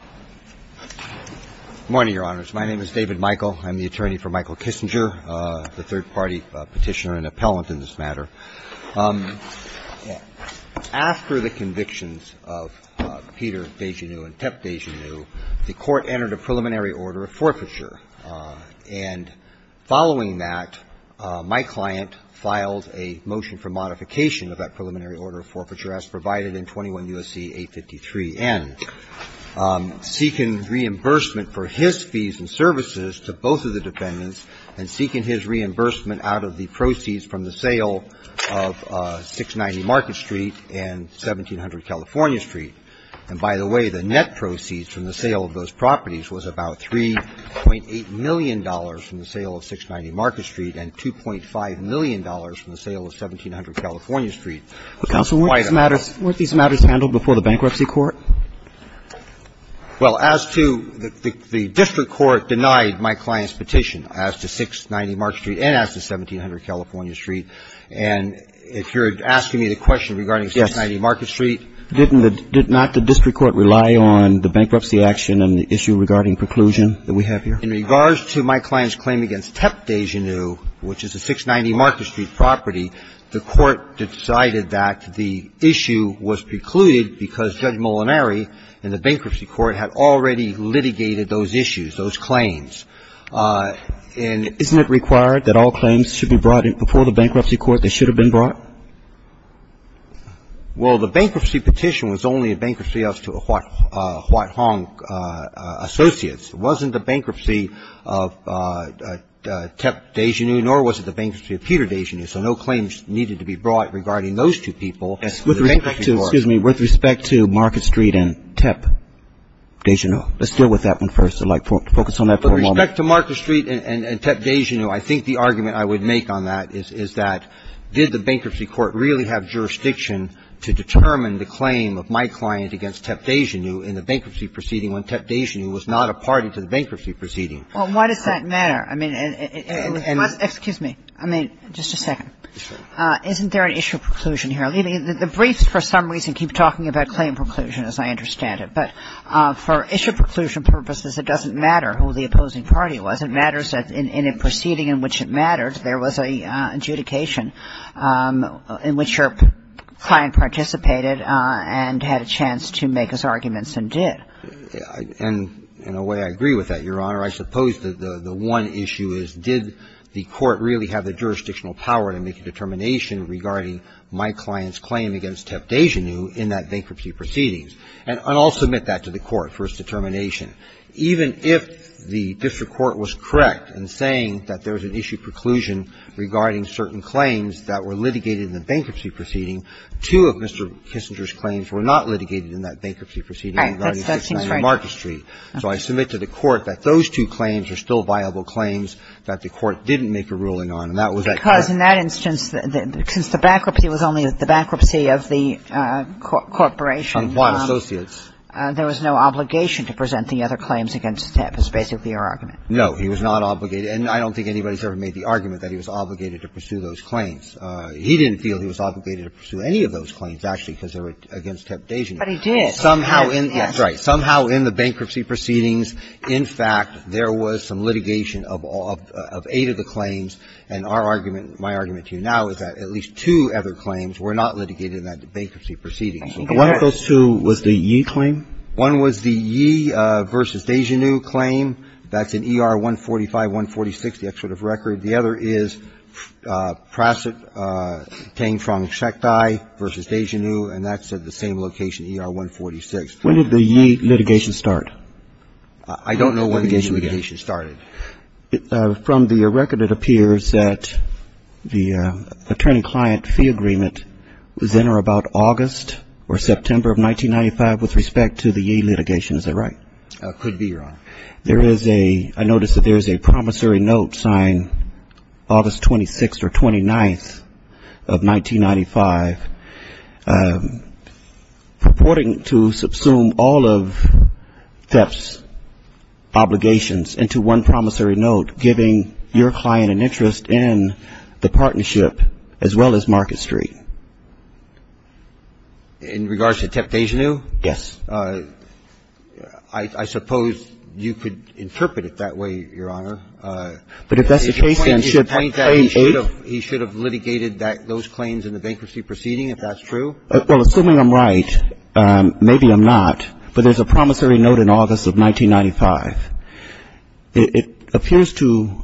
Good morning, Your Honors. My name is David Michael. I'm the attorney for Michael Kissinger, the third-party petitioner and appellant in this matter. After the convictions of Peter Dejanew and Tep Dejanew, the Court entered a preliminary order of forfeiture. And following that, my client filed a motion for modification of that preliminary order of forfeiture as provided in 21 U.S.C. 853N, seeking reimbursement for his fees and services to both of the defendants and seeking his reimbursement out of the proceeds from the sale of 690 Market Street and 1700 California Street. And by the way, the net proceeds from the sale of those properties was about $3.8 million from the sale of 690 Market Street and $2.5 million from the sale of 1700 California Street. But, counsel, weren't these matters handled before the Bankruptcy Court? Well, as to the District Court denied my client's petition as to 690 Market Street and as to 1700 California Street. And if you're asking me the question regarding 690 Market Street, didn't the – did not the District Court rely on the bankruptcy action and the issue regarding preclusion that we have here? In regards to my client's claim against Tep Dejanu, which is a 690 Market Street property, the Court decided that the issue was precluded because Judge Molinari in the Bankruptcy Court had already litigated those issues, those claims. And isn't it required that all claims should be brought before the Bankruptcy Court? They should have been brought? Well, the bankruptcy petition was only a bankruptcy as to a Huat Hong Associates. It wasn't the bankruptcy of Tep Dejanu, nor was it the bankruptcy of Peter Dejanu. So no claims needed to be brought regarding those two people. With respect to – excuse me. With respect to Market Street and Tep Dejanu. Let's deal with that one first. I'd like to focus on that for a moment. With respect to Market Street and Tep Dejanu, I think the argument I would make on that is that did the Bankruptcy Court really have jurisdiction to determine the claim of my client against Tep Dejanu in the bankruptcy proceeding when Tep Dejanu was not a party to the bankruptcy proceeding? Well, why does that matter? I mean, it was – excuse me. I mean, just a second. Isn't there an issue of preclusion here? I mean, the briefs for some reason keep talking about claim preclusion, as I understand it. But for issue of preclusion purposes, it doesn't matter who the opposing party was. It matters that in a proceeding in which it mattered, there was an adjudication in which your client participated and had a chance to make his arguments and did. And in a way, I agree with that, Your Honor. I suppose that the one issue is did the court really have the jurisdictional power to make a determination regarding my client's claim against Tep Dejanu in that bankruptcy proceedings? And I'll submit that to the Court for its determination. Even if the district court was correct in saying that there was an issue of preclusion regarding certain claims that were litigated in the bankruptcy proceeding, two of Mr. Kissinger's claims were not litigated in that bankruptcy proceeding. That seems right to me. So I submit to the Court that those two claims are still viable claims that the Court didn't make a ruling on, and that was that case. Because in that instance, since the bankruptcy was only the bankruptcy of the corporation and there was no obligation to present the other claims against Tep is basically your argument. No. He was not obligated. And I don't think anybody's ever made the argument that he was obligated to pursue those claims. He didn't feel he was obligated to pursue any of those claims, actually, because they were against Tep Dejanu. But he did. Somehow in the bankruptcy proceedings, in fact, there was some litigation of all of eight of the claims, and our argument, my argument to you now is that at least two other claims were not litigated in that bankruptcy proceeding. One of those two was the Yee claim? One was the Yee v. Dejanu claim. That's in ER 145, 146, the excerpt of record. The other is Prasit Teng Frong Shek Tai v. Dejanu, and that's at the same location, ER 146. When did the Yee litigation start? I don't know when the Yee litigation started. From the record, it appears that the attorney-client fee agreement was in or about August or September of 1995 with respect to the Yee litigation. Is that right? Could be, Your Honor. There is a – I notice that there is a promissory note signed August 26th or 29th of 1995 purporting to subsume all of TEP's obligations into one promissory note giving your client an interest in the partnership as well as Market Street. In regards to TEP Dejanu? Yes. I suppose you could interpret it that way, Your Honor. But if that's the case, then should that claim aid? He should have litigated those claims in the bankruptcy proceeding, if that's true? Well, assuming I'm right, maybe I'm not, but there's a promissory note in August of 1995. It appears to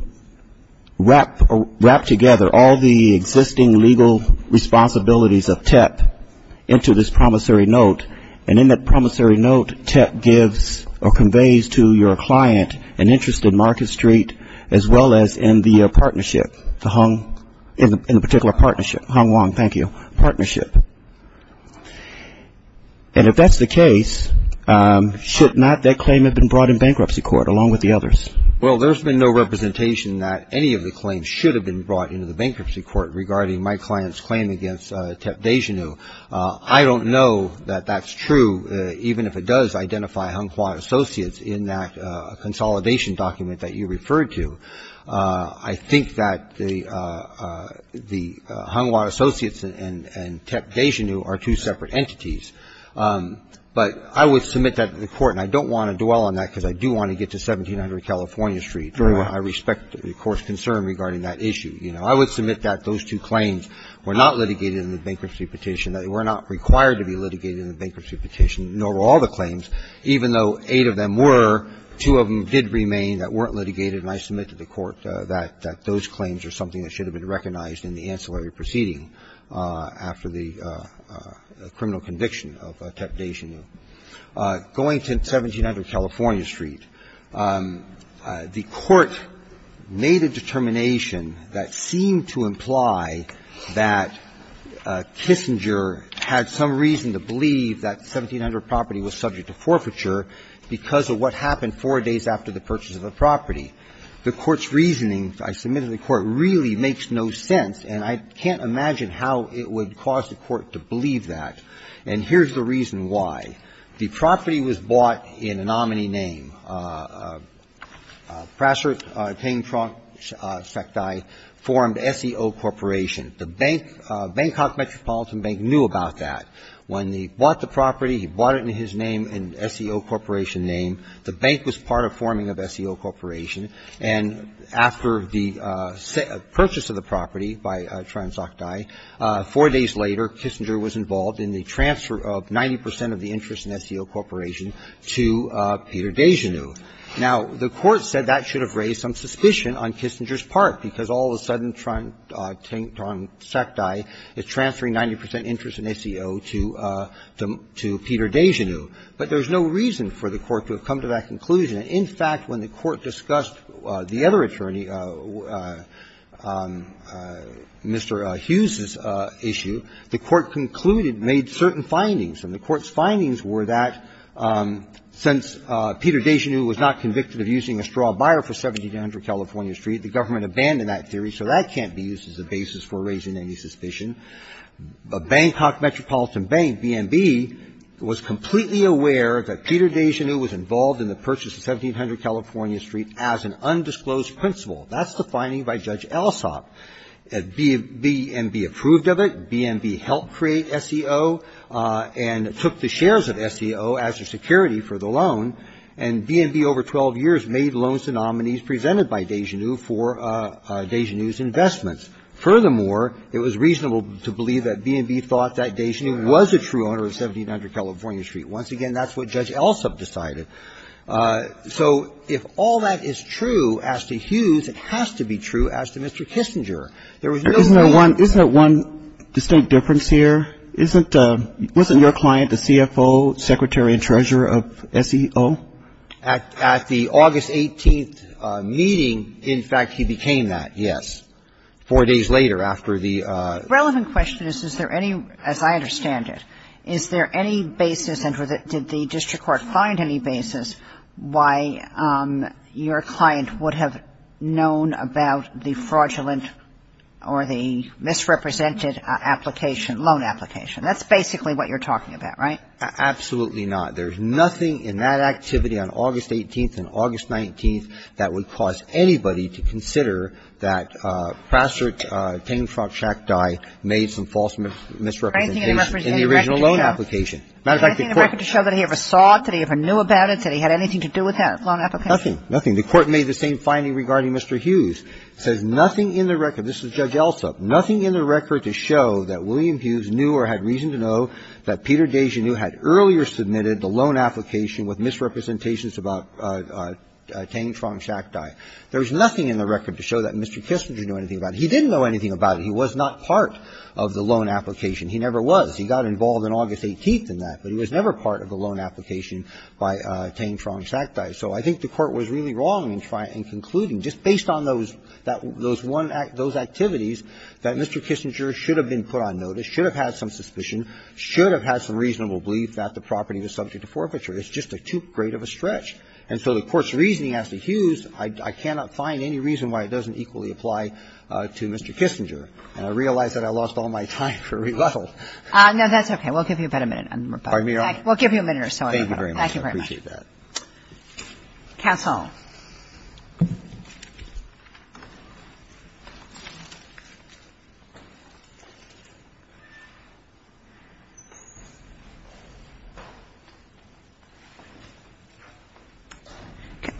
wrap together all the existing legal responsibilities of TEP into this promissory note, and in that promissory note, TEP gives or conveys to your client an interest in Market Street as well as in the partnership, the Hung – in the particular partnership, Hung Wong, thank you, partnership. And if that's the case, should not that claim have been brought in bankruptcy court along with the others? Well, there's been no representation that any of the claims should have been brought into the bankruptcy court regarding my client's claim against TEP Dejanu. I don't know that that's true, even if it does identify Hung Kwan Associates in that consolidation document that you referred to. I think that the Hung Kwan Associates and TEP Dejanu are two separate entities. But I would submit that to the Court, and I don't want to dwell on that, because I do want to get to 1700 California Street. I respect the Court's concern regarding that issue. I would submit that those two claims were not litigated in the bankruptcy petition. They were not required to be litigated in the bankruptcy petition, nor were all the claims that did remain that weren't litigated, and I submit to the Court that those claims are something that should have been recognized in the ancillary proceeding after the criminal conviction of TEP Dejanu. Going to 1700 California Street, the Court made a determination that seemed to imply that Kissinger had some reason to believe that 1700 property was subject to forfeiture because of what happened four days after the purchase of the property. The Court's reasoning, I submit to the Court, really makes no sense, and I can't imagine how it would cause the Court to believe that. And here's the reason why. The property was bought in a nominee name. Prasert Teng Trongsekthai formed SEO Corporation. The bank, Bangkok Metropolitan Bank, knew about that. When he bought the property, he bought it in his name, in SEO Corporation name. The bank was part of forming of SEO Corporation, and after the purchase of the property by Trongsekthai, four days later, Kissinger was involved in the transfer of 90 percent of the interest in SEO Corporation to Peter Dejanu. Now, the Court said that should have raised some suspicion on Kissinger's part, because all of a sudden, Trongsekthai is transferring 90 percent interest in SEO to Peter Dejanu. But there's no reason for the Court to have come to that conclusion. In fact, when the Court discussed the other attorney, Mr. Hughes's issue, the Court concluded, made certain findings, and the Court's findings were that since Peter Dejanu was not convicted of using a straw buyer for 1700 California Street, the government abandoned that theory, so that can't be used as a basis for raising any suspicion. Bangkok Metropolitan Bank, BNB, was completely aware that Peter Dejanu was involved in the purchase of 1700 California Street as an undisclosed principal. That's the finding by Judge Alsop. BNB approved of it. BNB helped create SEO and took the shares of SEO as a security for the loan, and BNB over 12 years made loans to nominees presented by Dejanu for Dejanu's investments. Furthermore, it was reasonable to believe that BNB thought that Dejanu was a true owner of 1700 California Street. Once again, that's what Judge Alsop decided. So if all that is true as to Hughes, it has to be true as to Mr. Kissinger. There was no other way. Isn't there one distinct difference here? Isn't your client the CFO, secretary and treasurer of SEO? At the August 18th meeting, in fact, he became that, yes, four days later after the ---- Relevant question is, is there any, as I understand it, is there any basis and did the district court find any basis why your client would have known about the fraudulent or the misrepresented application, loan application? That's basically what you're talking about, right? Absolutely not. There's nothing in that activity on August 18th and August 19th that would cause anybody to consider that Praster, Teign-Frank Shackdye made some false misrepresentation in the original loan application. As a matter of fact, the court ---- Anything in the record to show that he ever saw it, that he ever knew about it, that he had anything to do with that loan application? Nothing. Nothing. The court made the same finding regarding Mr. Hughes. It says nothing in the record. This is Judge Alsop. Nothing in the record to show that William Hughes knew or had reason to know that Peter Desgenieux had earlier submitted the loan application with misrepresentations about Teign-Frank Shackdye. There's nothing in the record to show that Mr. Kissinger knew anything about it. He didn't know anything about it. He was not part of the loan application. He never was. He got involved on August 18th in that. But he was never part of the loan application by Teign-Frank Shackdye. So I think the court was really wrong in trying to conclude, just based on those one act, those activities, that Mr. Kissinger should have been put on notice, should have had some suspicion, should have had some reasonable belief that the property was subject to forfeiture. It's just too great of a stretch. And so the Court's reasoning as to Hughes, I cannot find any reason why it doesn't equally apply to Mr. Kissinger. And I realize that I lost all my time for rebuttal. No, that's okay. We'll give you about a minute. Pardon me, Your Honor? We'll give you a minute or so. Thank you very much. I appreciate that. Kassel.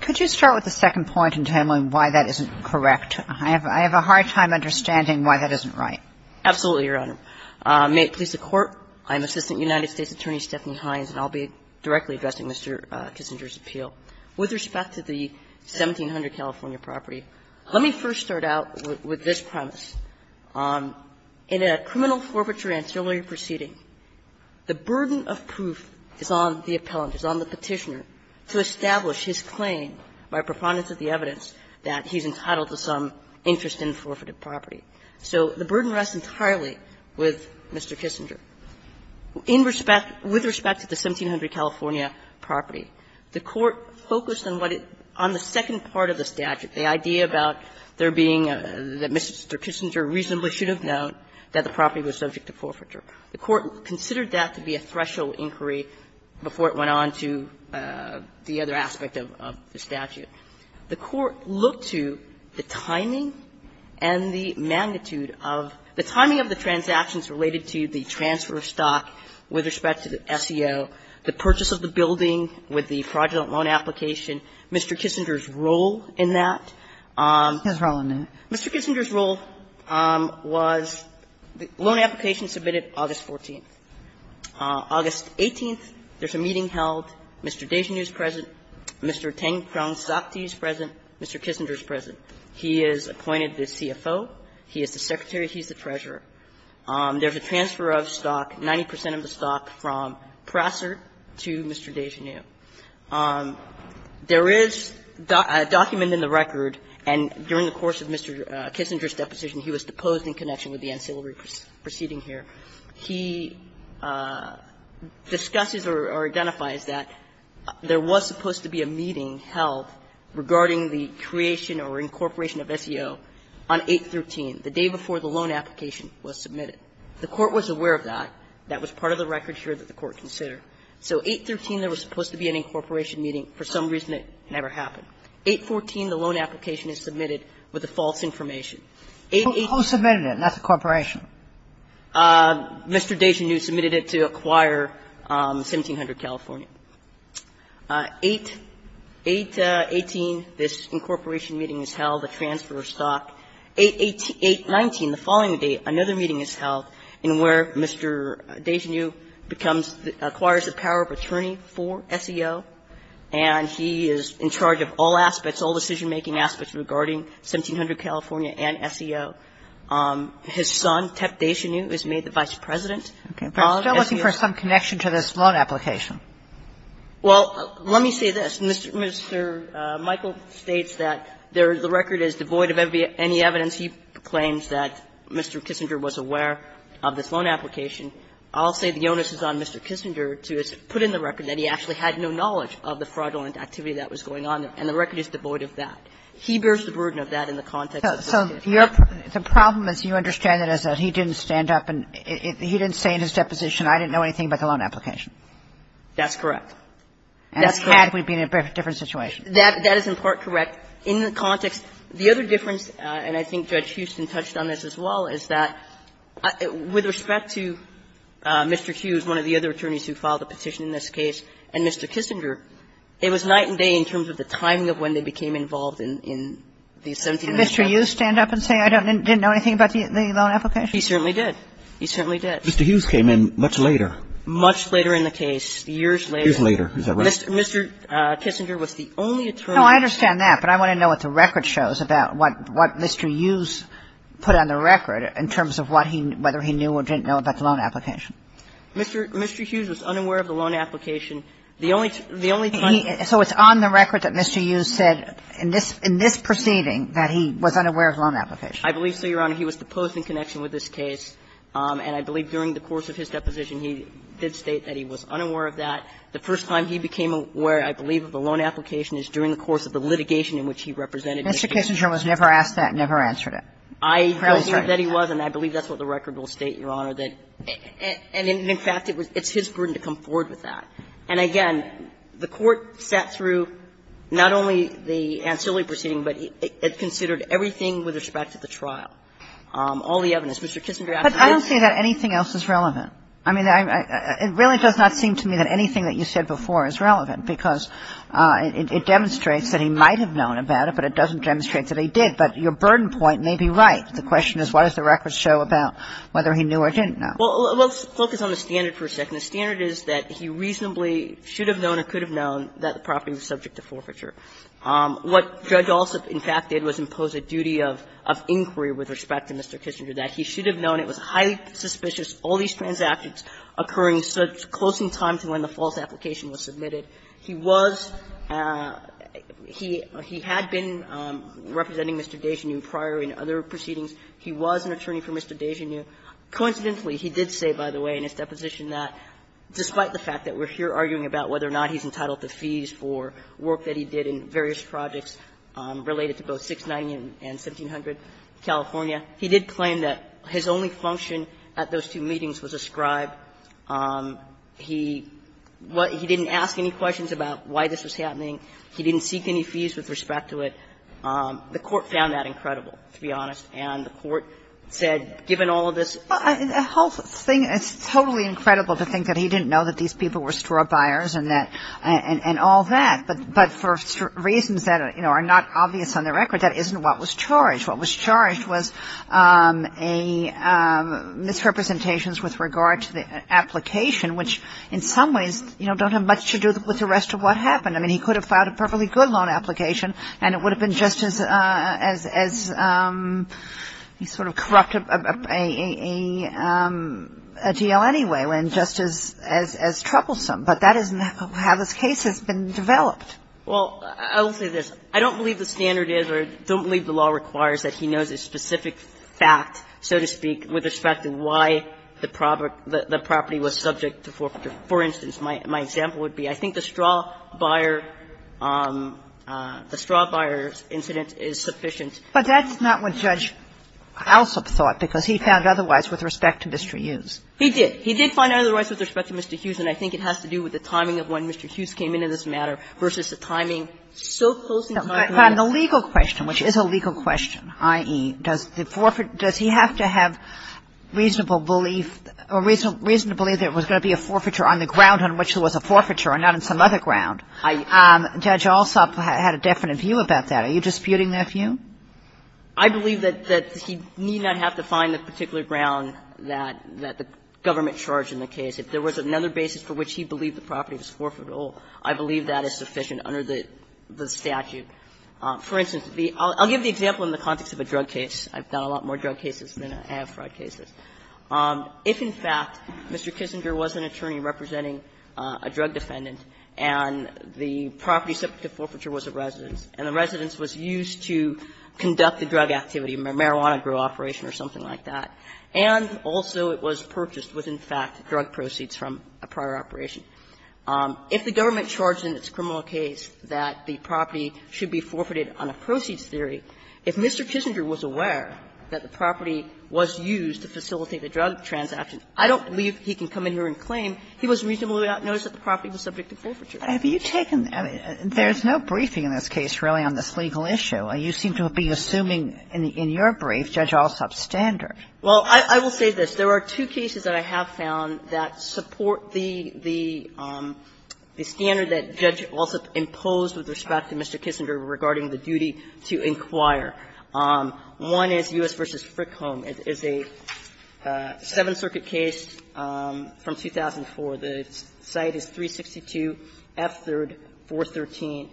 Could you start with the second point in terms of why that isn't correct? I have a hard time understanding why that isn't right. Absolutely, Your Honor. May it please the Court, I'm Assistant United States Attorney Stephanie Hines, and I'll be directly addressing Mr. Kissinger's appeal. With respect to the 1700 California property, let me first start out with this premise. In a criminal forfeiture ancillary proceeding, the burden of proof is on the appellant, is on the Petitioner, to establish his claim by preponderance of the evidence that he's entitled to some interest in forfeited property. So the burden rests entirely with Mr. Kissinger. In respect to the 1700 California property, the Court focused on what it – on the second part of the statute, the idea about there being – that Mr. Kissinger reasonably should have known that the property was subject to forfeiture. The Court considered that to be a threshold inquiry before it went on to the other aspect of the statute. The Court looked to the timing and the magnitude of – the timing of the transactions related to the transfer of stock with respect to the SEO, the purchase of the building with the fraudulent loan application, Mr. Kissinger's role in that. Mr. Kissinger's role was the loan application submitted August 14th. August 18th, there's a meeting held. Mr. Desjardins is present. Mr. Tengkron-Sakthi is present. Mr. Kissinger is present. He is appointed the CFO. He is the Secretary. He is the Treasurer. There's a transfer of stock, 90 percent of the stock, from Prosser to Mr. Desjardins. There is a document in the record, and during the course of Mr. Kissinger's deposition, he was deposed in connection with the ancillary proceeding here. He discusses or identifies that there was supposed to be a meeting held regarding the creation or incorporation of SEO on 813, the day before the loan application was submitted. The Court was aware of that. That was part of the record here that the Court considered. So 813, there was supposed to be an incorporation meeting. For some reason, it never happened. 814, the loan application is submitted with the false information. Eight, eight – Kagan, who submitted it, not the corporation? Mr. Desjardins submitted it to Acquire 1700 California. 818, this incorporation meeting is held, the transfer of stock. 818 – 819, the following day, another meeting is held in where Mr. Desjardins becomes the – acquires the power of attorney for SEO, and he is in charge of all aspects, all decision-making aspects regarding 1700 California and SEO. His son, Tep Desjanu, is made the vice president. Kagan, as you know – But you're still looking for some connection to this loan application. Well, let me say this. Mr. – Mr. Michael states that the record is devoid of any evidence. He claims that Mr. Kissinger was aware of this loan application. I'll say the onus is on Mr. Kissinger to put in the record that he actually had no knowledge of the fraudulent activity that was going on, and the record is devoid of that. He bears the burden of that in the context of this case. So your – the problem, as you understand it, is that he didn't stand up and he didn't say in his deposition, I didn't know anything about the loan application. That's correct. That's correct. And had we been in a different situation. That is in part correct. In the context – the other difference, and I think Judge Houston touched on this as well, is that with respect to Mr. Hughes, one of the other attorneys who filed a petition in this case, and Mr. Kissinger, it was night and day in terms of the timing of when they became involved in the 1700 case. And Mr. Hughes didn't stand up and say, I didn't know anything about the loan application? He certainly did. He certainly did. Mr. Hughes came in much later. Much later in the case, years later. Years later, is that right? Mr. Kissinger was the only attorney. No, I understand that, but I want to know what the record shows about what Mr. Hughes put on the record in terms of what he – whether he knew or didn't know about the loan application. Mr. Hughes was unaware of the loan application. The only – the only time he – So it's on the record that Mr. Hughes said in this – in this proceeding that he was unaware of the loan application. I believe so, Your Honor. He was deposed in connection with this case, and I believe during the course of his deposition he did state that he was unaware of that. The first time he became aware, I believe, of a loan application is during the course of the litigation in which he represented Mr. Kissinger. Mr. Kissinger was never asked that and never answered it. I believe that he was, and I believe that's what the record will state, Your Honor, that – and in fact, it was – it's his burden to come forward with that. And again, the Court sat through not only the ancillary proceeding, but it considered everything with respect to the trial, all the evidence. Mr. Kissinger actually did say that. But I don't see that anything else is relevant. I mean, it really does not seem to me that anything that you said before is relevant, because it demonstrates that he might have known about it, but it doesn't demonstrate that he did. But your burden point may be right. The question is, what does the record show about whether he knew or didn't know? Well, let's focus on the standard for a second. The standard is that he reasonably should have known or could have known that the property was subject to forfeiture. What Judge Alsop, in fact, did was impose a duty of inquiry with respect to Mr. Kissinger, that he should have known it was highly suspicious, all these transactions occurring so close in time to when the false application was submitted. He was – he had been representing Mr. Desjardins prior in other proceedings. He was an attorney for Mr. Desjardins. Coincidentally, he did say, by the way, in his deposition, that despite the fact that we're here arguing about whether or not he's entitled to fees for work that he did in various projects related to both 690 and 1700 California, he did claim that his only function at those two meetings was a scribe. He didn't ask any questions about why this was happening. He didn't seek any fees with respect to it. The Court found that incredible, to be honest. And the Court said, given all of this – Well, the whole thing – it's totally incredible to think that he didn't know that these people were straw buyers and that – and all that. But for reasons that, you know, are not obvious on the record, that isn't what was charged. What was charged was a – misrepresentations with regard to the application, which in some ways, you know, don't have much to do with the rest of what happened. I mean, he could have filed a perfectly good loan application, and it would have been just as – as he sort of corrupted a deal anyway, when just as – as troublesome. But that isn't how this case has been developed. Well, I will say this. I don't believe the standard is, or I don't believe the law requires that he knows a specific fact, so to speak, with respect to why the property was subject to forfeiture. For instance, my example would be, I think the straw buyer – the straw buyer incident is sufficient. But that's not what Judge Alsop thought, because he found otherwise with respect to Mr. Hughes. He did. He did find otherwise with respect to Mr. Hughes, and I think it has to do with the timing of when Mr. Hughes came into this matter versus the timing – so close in time to when the – Pardon. The legal question, which is a legal question, i.e., does the forfeit – does he have to have reasonable belief – or reason to believe there was going to be a forfeiture on the ground on which there was a forfeiture or not on some other ground? Judge Alsop had a definite view about that. Are you disputing that view? I believe that he need not have to find the particular ground that the government charged in the case. If there was another basis for which he believed the property was forfeitable, I believe that is sufficient under the statute. For instance, the – I'll give the example in the context of a drug case. I've done a lot more drug cases than I have fraud cases. If, in fact, Mr. Kissinger was an attorney representing a drug defendant, and the property subject to forfeiture was a residence, and the residence was used to conduct a drug activity, a marijuana grow operation or something like that, and also it was purchased with, in fact, drug proceeds from a prior operation, if the government charged in its criminal case that the property should be forfeited on a proceeds theory, if Mr. Kissinger was aware that the property was used to facilitate the drug transaction, I don't believe he can come in here and claim he was reasonably aware that the property was subject to forfeiture. Kagan. There's no briefing in this case, really, on this legal issue. You seem to be assuming in your brief, Judge Alsop's standard. Well, I will say this. There are two cases that I have found that support the standard that Judge Alsop imposed with respect to Mr. Kissinger regarding the duty to inquire. One is U.S. v. Frick Home. It's a Seventh Circuit case from 2004. The site is 362 F. 3rd, 413.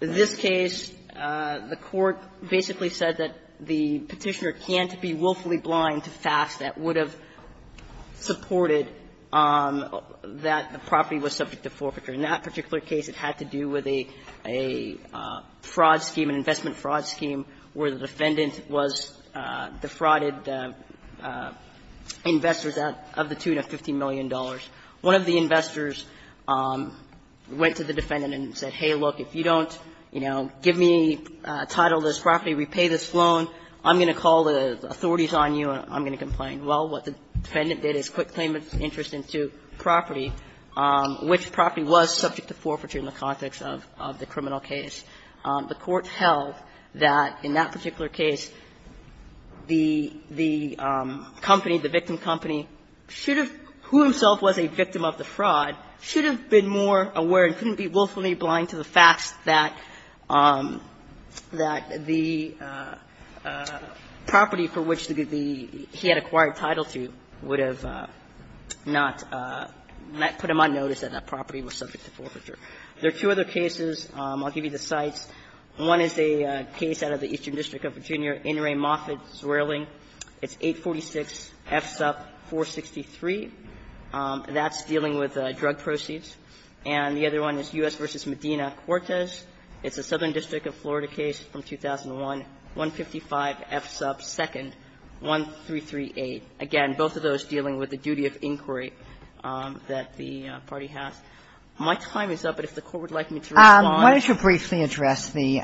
In this case, the Court basically said that the Petitioner can't be willfully blind to facts that would have supported that the property was subject to forfeiture. In that particular case, it had to do with a fraud scheme, an investment fraud scheme where the defendant was defrauded investors of the tune of $15 million. One of the investors went to the defendant and said, hey, look, if you don't, you know, give me title of this property, repay this loan, I'm going to call the authorities on you and I'm going to complain. Well, what the defendant did is put claimant's interest into property, which property was subject to forfeiture in the context of the criminal case. The Court held that in that particular case, the company, the victim company should have, who himself was a victim of the fraud, should have been more aware and couldn't be willfully blind to the facts that the property for which the he had acquired title to would have not put him on notice that that property was subject to forfeiture. There are two other cases. I'll give you the sites. One is a case out of the Eastern District of Virginia, In re Moffitt Zwierling. It's 846 F. Supp. 463. That's dealing with drug proceeds. And the other one is U.S. v. Medina-Cortez. It's a Southern District of Florida case from 2001, 155 F. Supp. 2nd, 1338. Again, both of those dealing with the duty of inquiry that the party has. My time is up. And if the Court would like me to respond. Kagan. Kagan. You're free to address the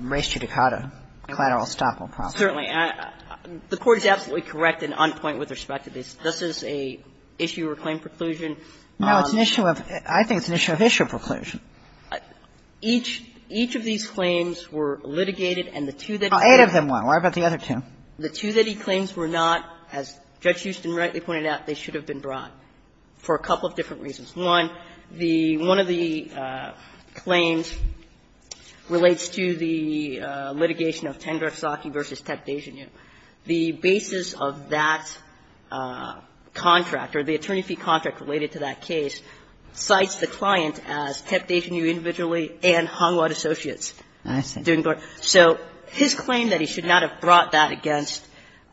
res judicata, collateral estoppel process. Certainly. The Court is absolutely correct, and on point with respect to this. This is a issue or claim preclusion. No, it's an issue of ‑‑ I think it's an issue of issue of preclusion. Each of these claims were litigated, and the two that he claims were ‑‑ Well, eight of them were. What about the other two? The two that he claims were not, as Judge Houston rightly pointed out, they should have been brought for a couple of different reasons. One, the ‑‑ one of the claims relates to the litigation of Tendersaki v. Tepdejenu. The basis of that contract, or the attorney fee contract related to that case, cites the client as Tepdejenu individually and Hongwan Associates. I see. So his claim that he should not have brought that against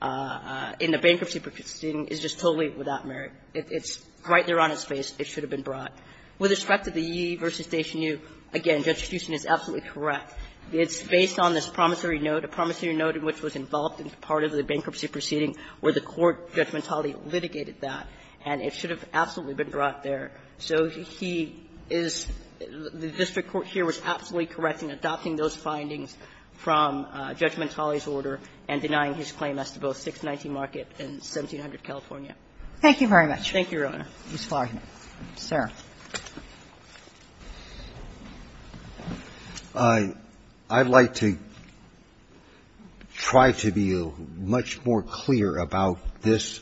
in the bankruptcy proceeding is just totally without merit. It's right there on his face. It should have been brought. With respect to the Yee v. Tepdejenu, again, Judge Houston is absolutely correct. It's based on this promissory note, a promissory note in which was involved in part of the bankruptcy proceeding where the court, Judge Mentale, litigated that, and it should have absolutely been brought there. So he is ‑‑ the district court here was absolutely correct in adopting those findings from Judge Mentale's order and denying his claim as to both 619 Market and 1700 California. Thank you very much. Thank you, Your Honor. Ms. Flaherty. Sir. I'd like to try to be much more clear about this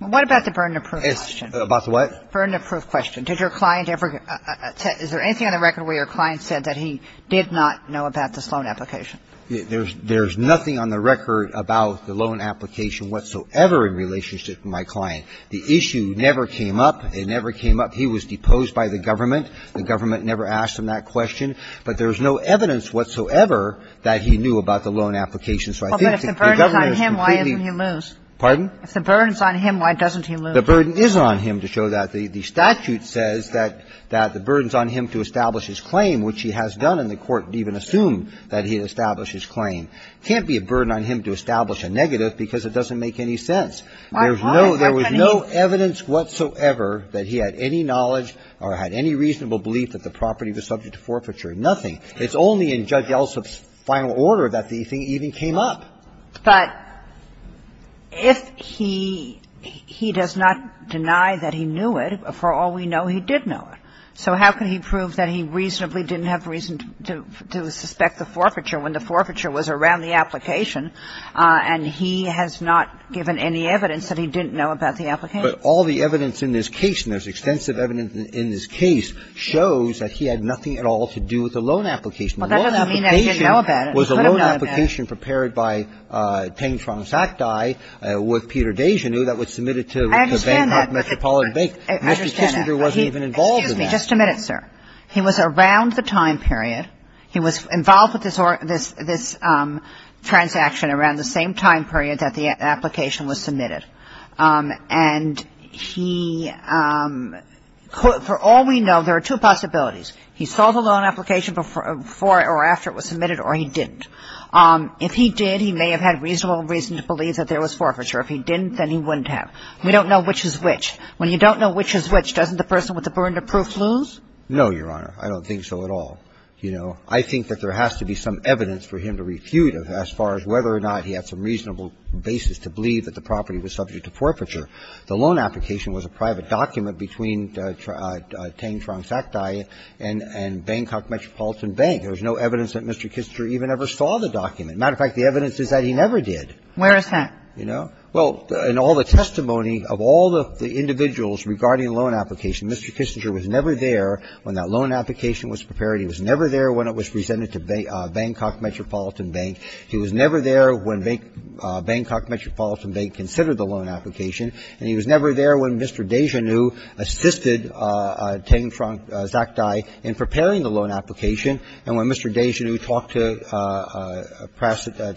‑‑ What about the burden of proof question? About the what? Burden of proof question. Did your client ever ‑‑ is there anything on the record where your client said that he did not know about this loan application? There's nothing on the record about the loan application whatsoever in relationship with my client. The issue never came up. It never came up. He was deposed by the government. The government never asked him that question. But there's no evidence whatsoever that he knew about the loan application. So I think the government is completely ‑‑ Well, but if the burden is on him, why doesn't he lose? Pardon? If the burden is on him, why doesn't he lose? The burden is on him to show that. The statute says that the burden is on him to establish his claim, which he has done, and the court even assumed that he had established his claim. It can't be a burden on him to establish a negative because it doesn't make any sense. Why? There was no evidence whatsoever that he had any knowledge or had any reasonable belief that the property was subject to forfeiture, nothing. It's only in Judge Yeltsin's final order that the thing even came up. But if he ‑‑ he does not deny that he knew it, for all we know, he did know it. So how can he prove that he reasonably didn't have reason to suspect the forfeiture when the forfeiture was around the application and he has not given any evidence that he didn't know about the application? But all the evidence in this case, and there's extensive evidence in this case, shows that he had nothing at all to do with the loan application. Well, that doesn't mean that he didn't know about it. He could have known about it. The loan application was a loan application prepared by Teng Trong Saktai with Peter Dejanew that was submitted to the Bangkok Metropolitan Bank. I understand that. Mr. Kissinger wasn't even involved in that. Excuse me. Just a minute, sir. He was around the time period. He was involved with this transaction around the same time period that the application was submitted. And he ‑‑ for all we know, there are two possibilities. He saw the loan application before or after it was submitted or he didn't. If he did, he may have had reasonable reason to believe that there was forfeiture. If he didn't, then he wouldn't have. We don't know which is which. When you don't know which is which, doesn't the person with the Bernda proof lose? No, Your Honor. I don't think so at all. You know, I think that there has to be some evidence for him to refute as far as whether or not he had some reasonable basis to believe that the property was subject to forfeiture. The loan application was a private document between Teng Trong Saktai and Bangkok Metropolitan Bank. There was no evidence that Mr. Kissinger even ever saw the document. As a matter of fact, the evidence is that he never did. Where is that? You know? Well, in all the testimony of all the individuals regarding the loan application, Mr. Kissinger was never there when that loan application was prepared. He was never there when it was presented to Bangkok Metropolitan Bank. He was never there when Bangkok Metropolitan Bank considered the loan application. And he was never there when Mr. Dejanoo assisted Teng Trong Saktai in preparing the loan application. And when Mr. Dejanoo talked to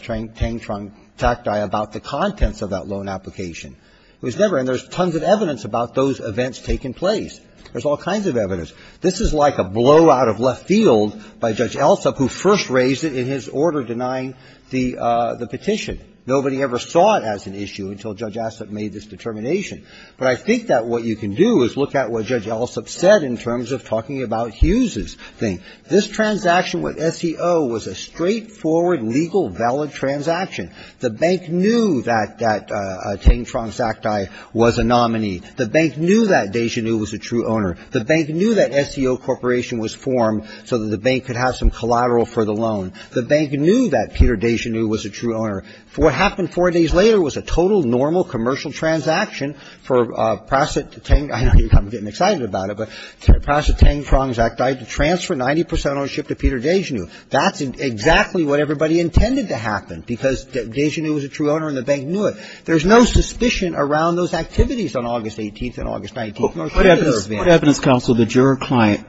Teng Trong Saktai about the contents of that loan application, he was never there. And there's tons of evidence about those events taking place. There's all kinds of evidence. This is like a blowout of left field by Judge Alsop, who first raised it in his order denying the petition. Nobody ever saw it as an issue until Judge Alsop made this determination. But I think that what you can do is look at what Judge Alsop said in terms of talking about Hughes's thing. This transaction with SEO was a straightforward, legal, valid transaction. The bank knew that Teng Trong Saktai was a nominee. The bank knew that Dejanoo was a true owner. The bank knew that SEO Corporation was formed so that the bank could have some collateral for the loan. The bank knew that Peter Dejanoo was a true owner. For what happened four days later was a total normal commercial transaction for Prasit Teng, I'm getting excited about it. Prasit Teng Trong Saktai to transfer 90% ownership to Peter Dejanoo. That's exactly what everybody intended to happen, because Dejanoo was a true owner and the bank knew it. There's no suspicion around those activities on August 18th and August 19th. What evidence counsel did your client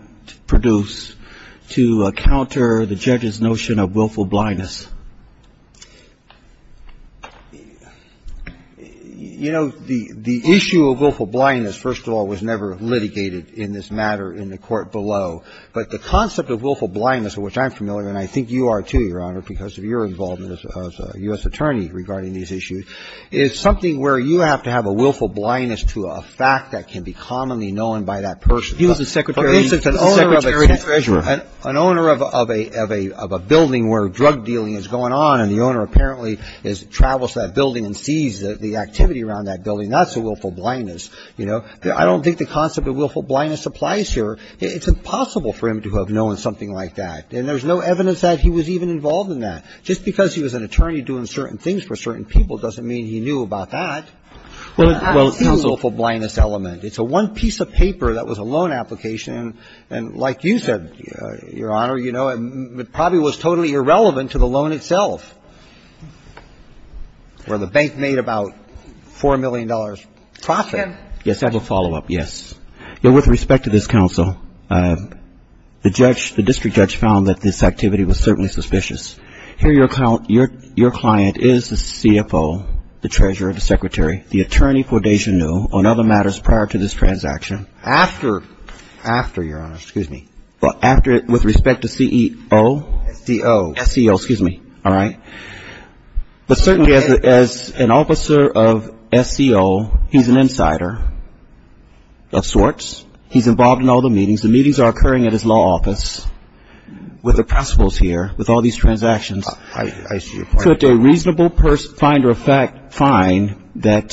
produce to counter the judge's notion of willful blindness? You know, the issue of willful blindness, first of all, was never litigated in this matter in the court below. But the concept of willful blindness, which I'm familiar with, and I think you are too, Your Honor, because of your involvement as a U.S. attorney regarding these issues, is something where you have to have a willful blindness to a fact that can be commonly known by that person. He was the Secretary of the Treasury. An owner of a building where drug dealing was going on, and the owner apparently travels to that building and sees the activity around that building. That's a willful blindness, you know. I don't think the concept of willful blindness applies here. It's impossible for him to have known something like that. And there's no evidence that he was even involved in that. Just because he was an attorney doing certain things for certain people doesn't mean he knew about that. Well, it's not a willful blindness element. It's a one piece of paper that was a loan application, and like you said, Your Honor, you know, it probably was totally irrelevant to the loan itself, where the bank made about $4 million profit. Yes, I have a follow-up, yes. With respect to this counsel, the judge, the district judge found that this activity was certainly suspicious. Here your client is the CFO, the Treasurer, the Secretary, the attorney for Desjardins on other matters prior to this transaction. After, Your Honor, excuse me. Well, after, with respect to CEO? SEO. SEO, excuse me. All right. But certainly as an officer of SEO, he's an insider of sorts. He's involved in all the meetings. The meetings are occurring at his law office with the principals here, with all these transactions. I see your point. Could a reasonable finder of fact find that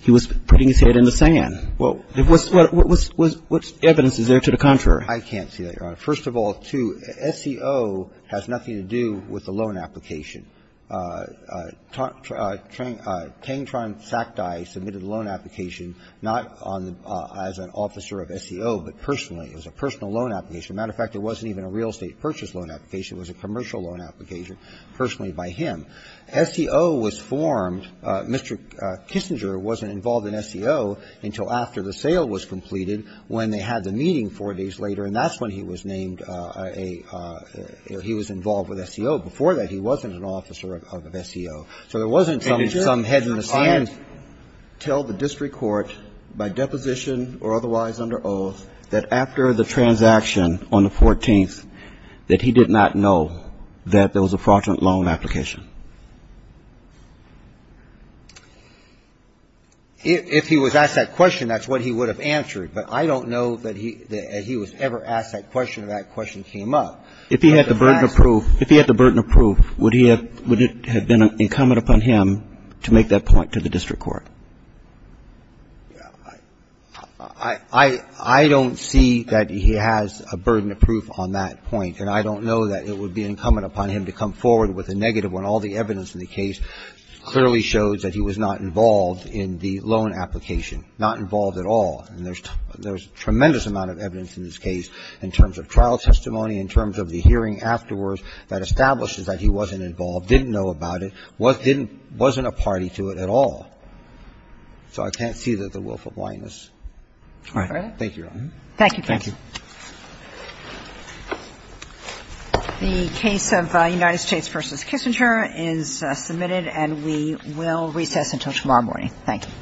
he was putting his head in the sand? Well, what evidence is there to the contrary? I can't see that, Your Honor. First of all, too, SEO has nothing to do with the loan application. Tang-Tran Sac-Dai submitted a loan application not on the as an officer of SEO, but personally. It was a personal loan application. As a matter of fact, it wasn't even a real estate purchase loan application. It was a commercial loan application personally by him. SEO was formed. Mr. Kissinger wasn't involved in SEO until after the sale was completed, when they had the meeting four days later, and that's when he was named a he was involved with SEO. Before that, he wasn't an officer of SEO. So there wasn't some head in the sand. And did your client tell the district court by deposition or otherwise under oath that after the transaction on the 14th that he did not know that there was a fraudulent loan application? If he was asked that question, that's what he would have answered. But I don't know that he was ever asked that question or that question came up. If he had the burden of proof, would it have been incumbent upon him to make that point to the district court? I don't see that he has a burden of proof on that point, and I don't know that it would be incumbent upon him to come forward with a negative when all the evidence in the case clearly shows that he was not involved in the loan application, not involved at all. And there's a tremendous amount of evidence in this case in terms of trial testimony, in terms of the hearing afterwards that establishes that he wasn't involved, didn't know about it, wasn't a party to it at all. So I can't see the wolf of blindness. All right. Thank you, Your Honor. Thank you, counsel. The case of United States v. Kissinger is submitted, and we will recess until tomorrow morning. Thank you.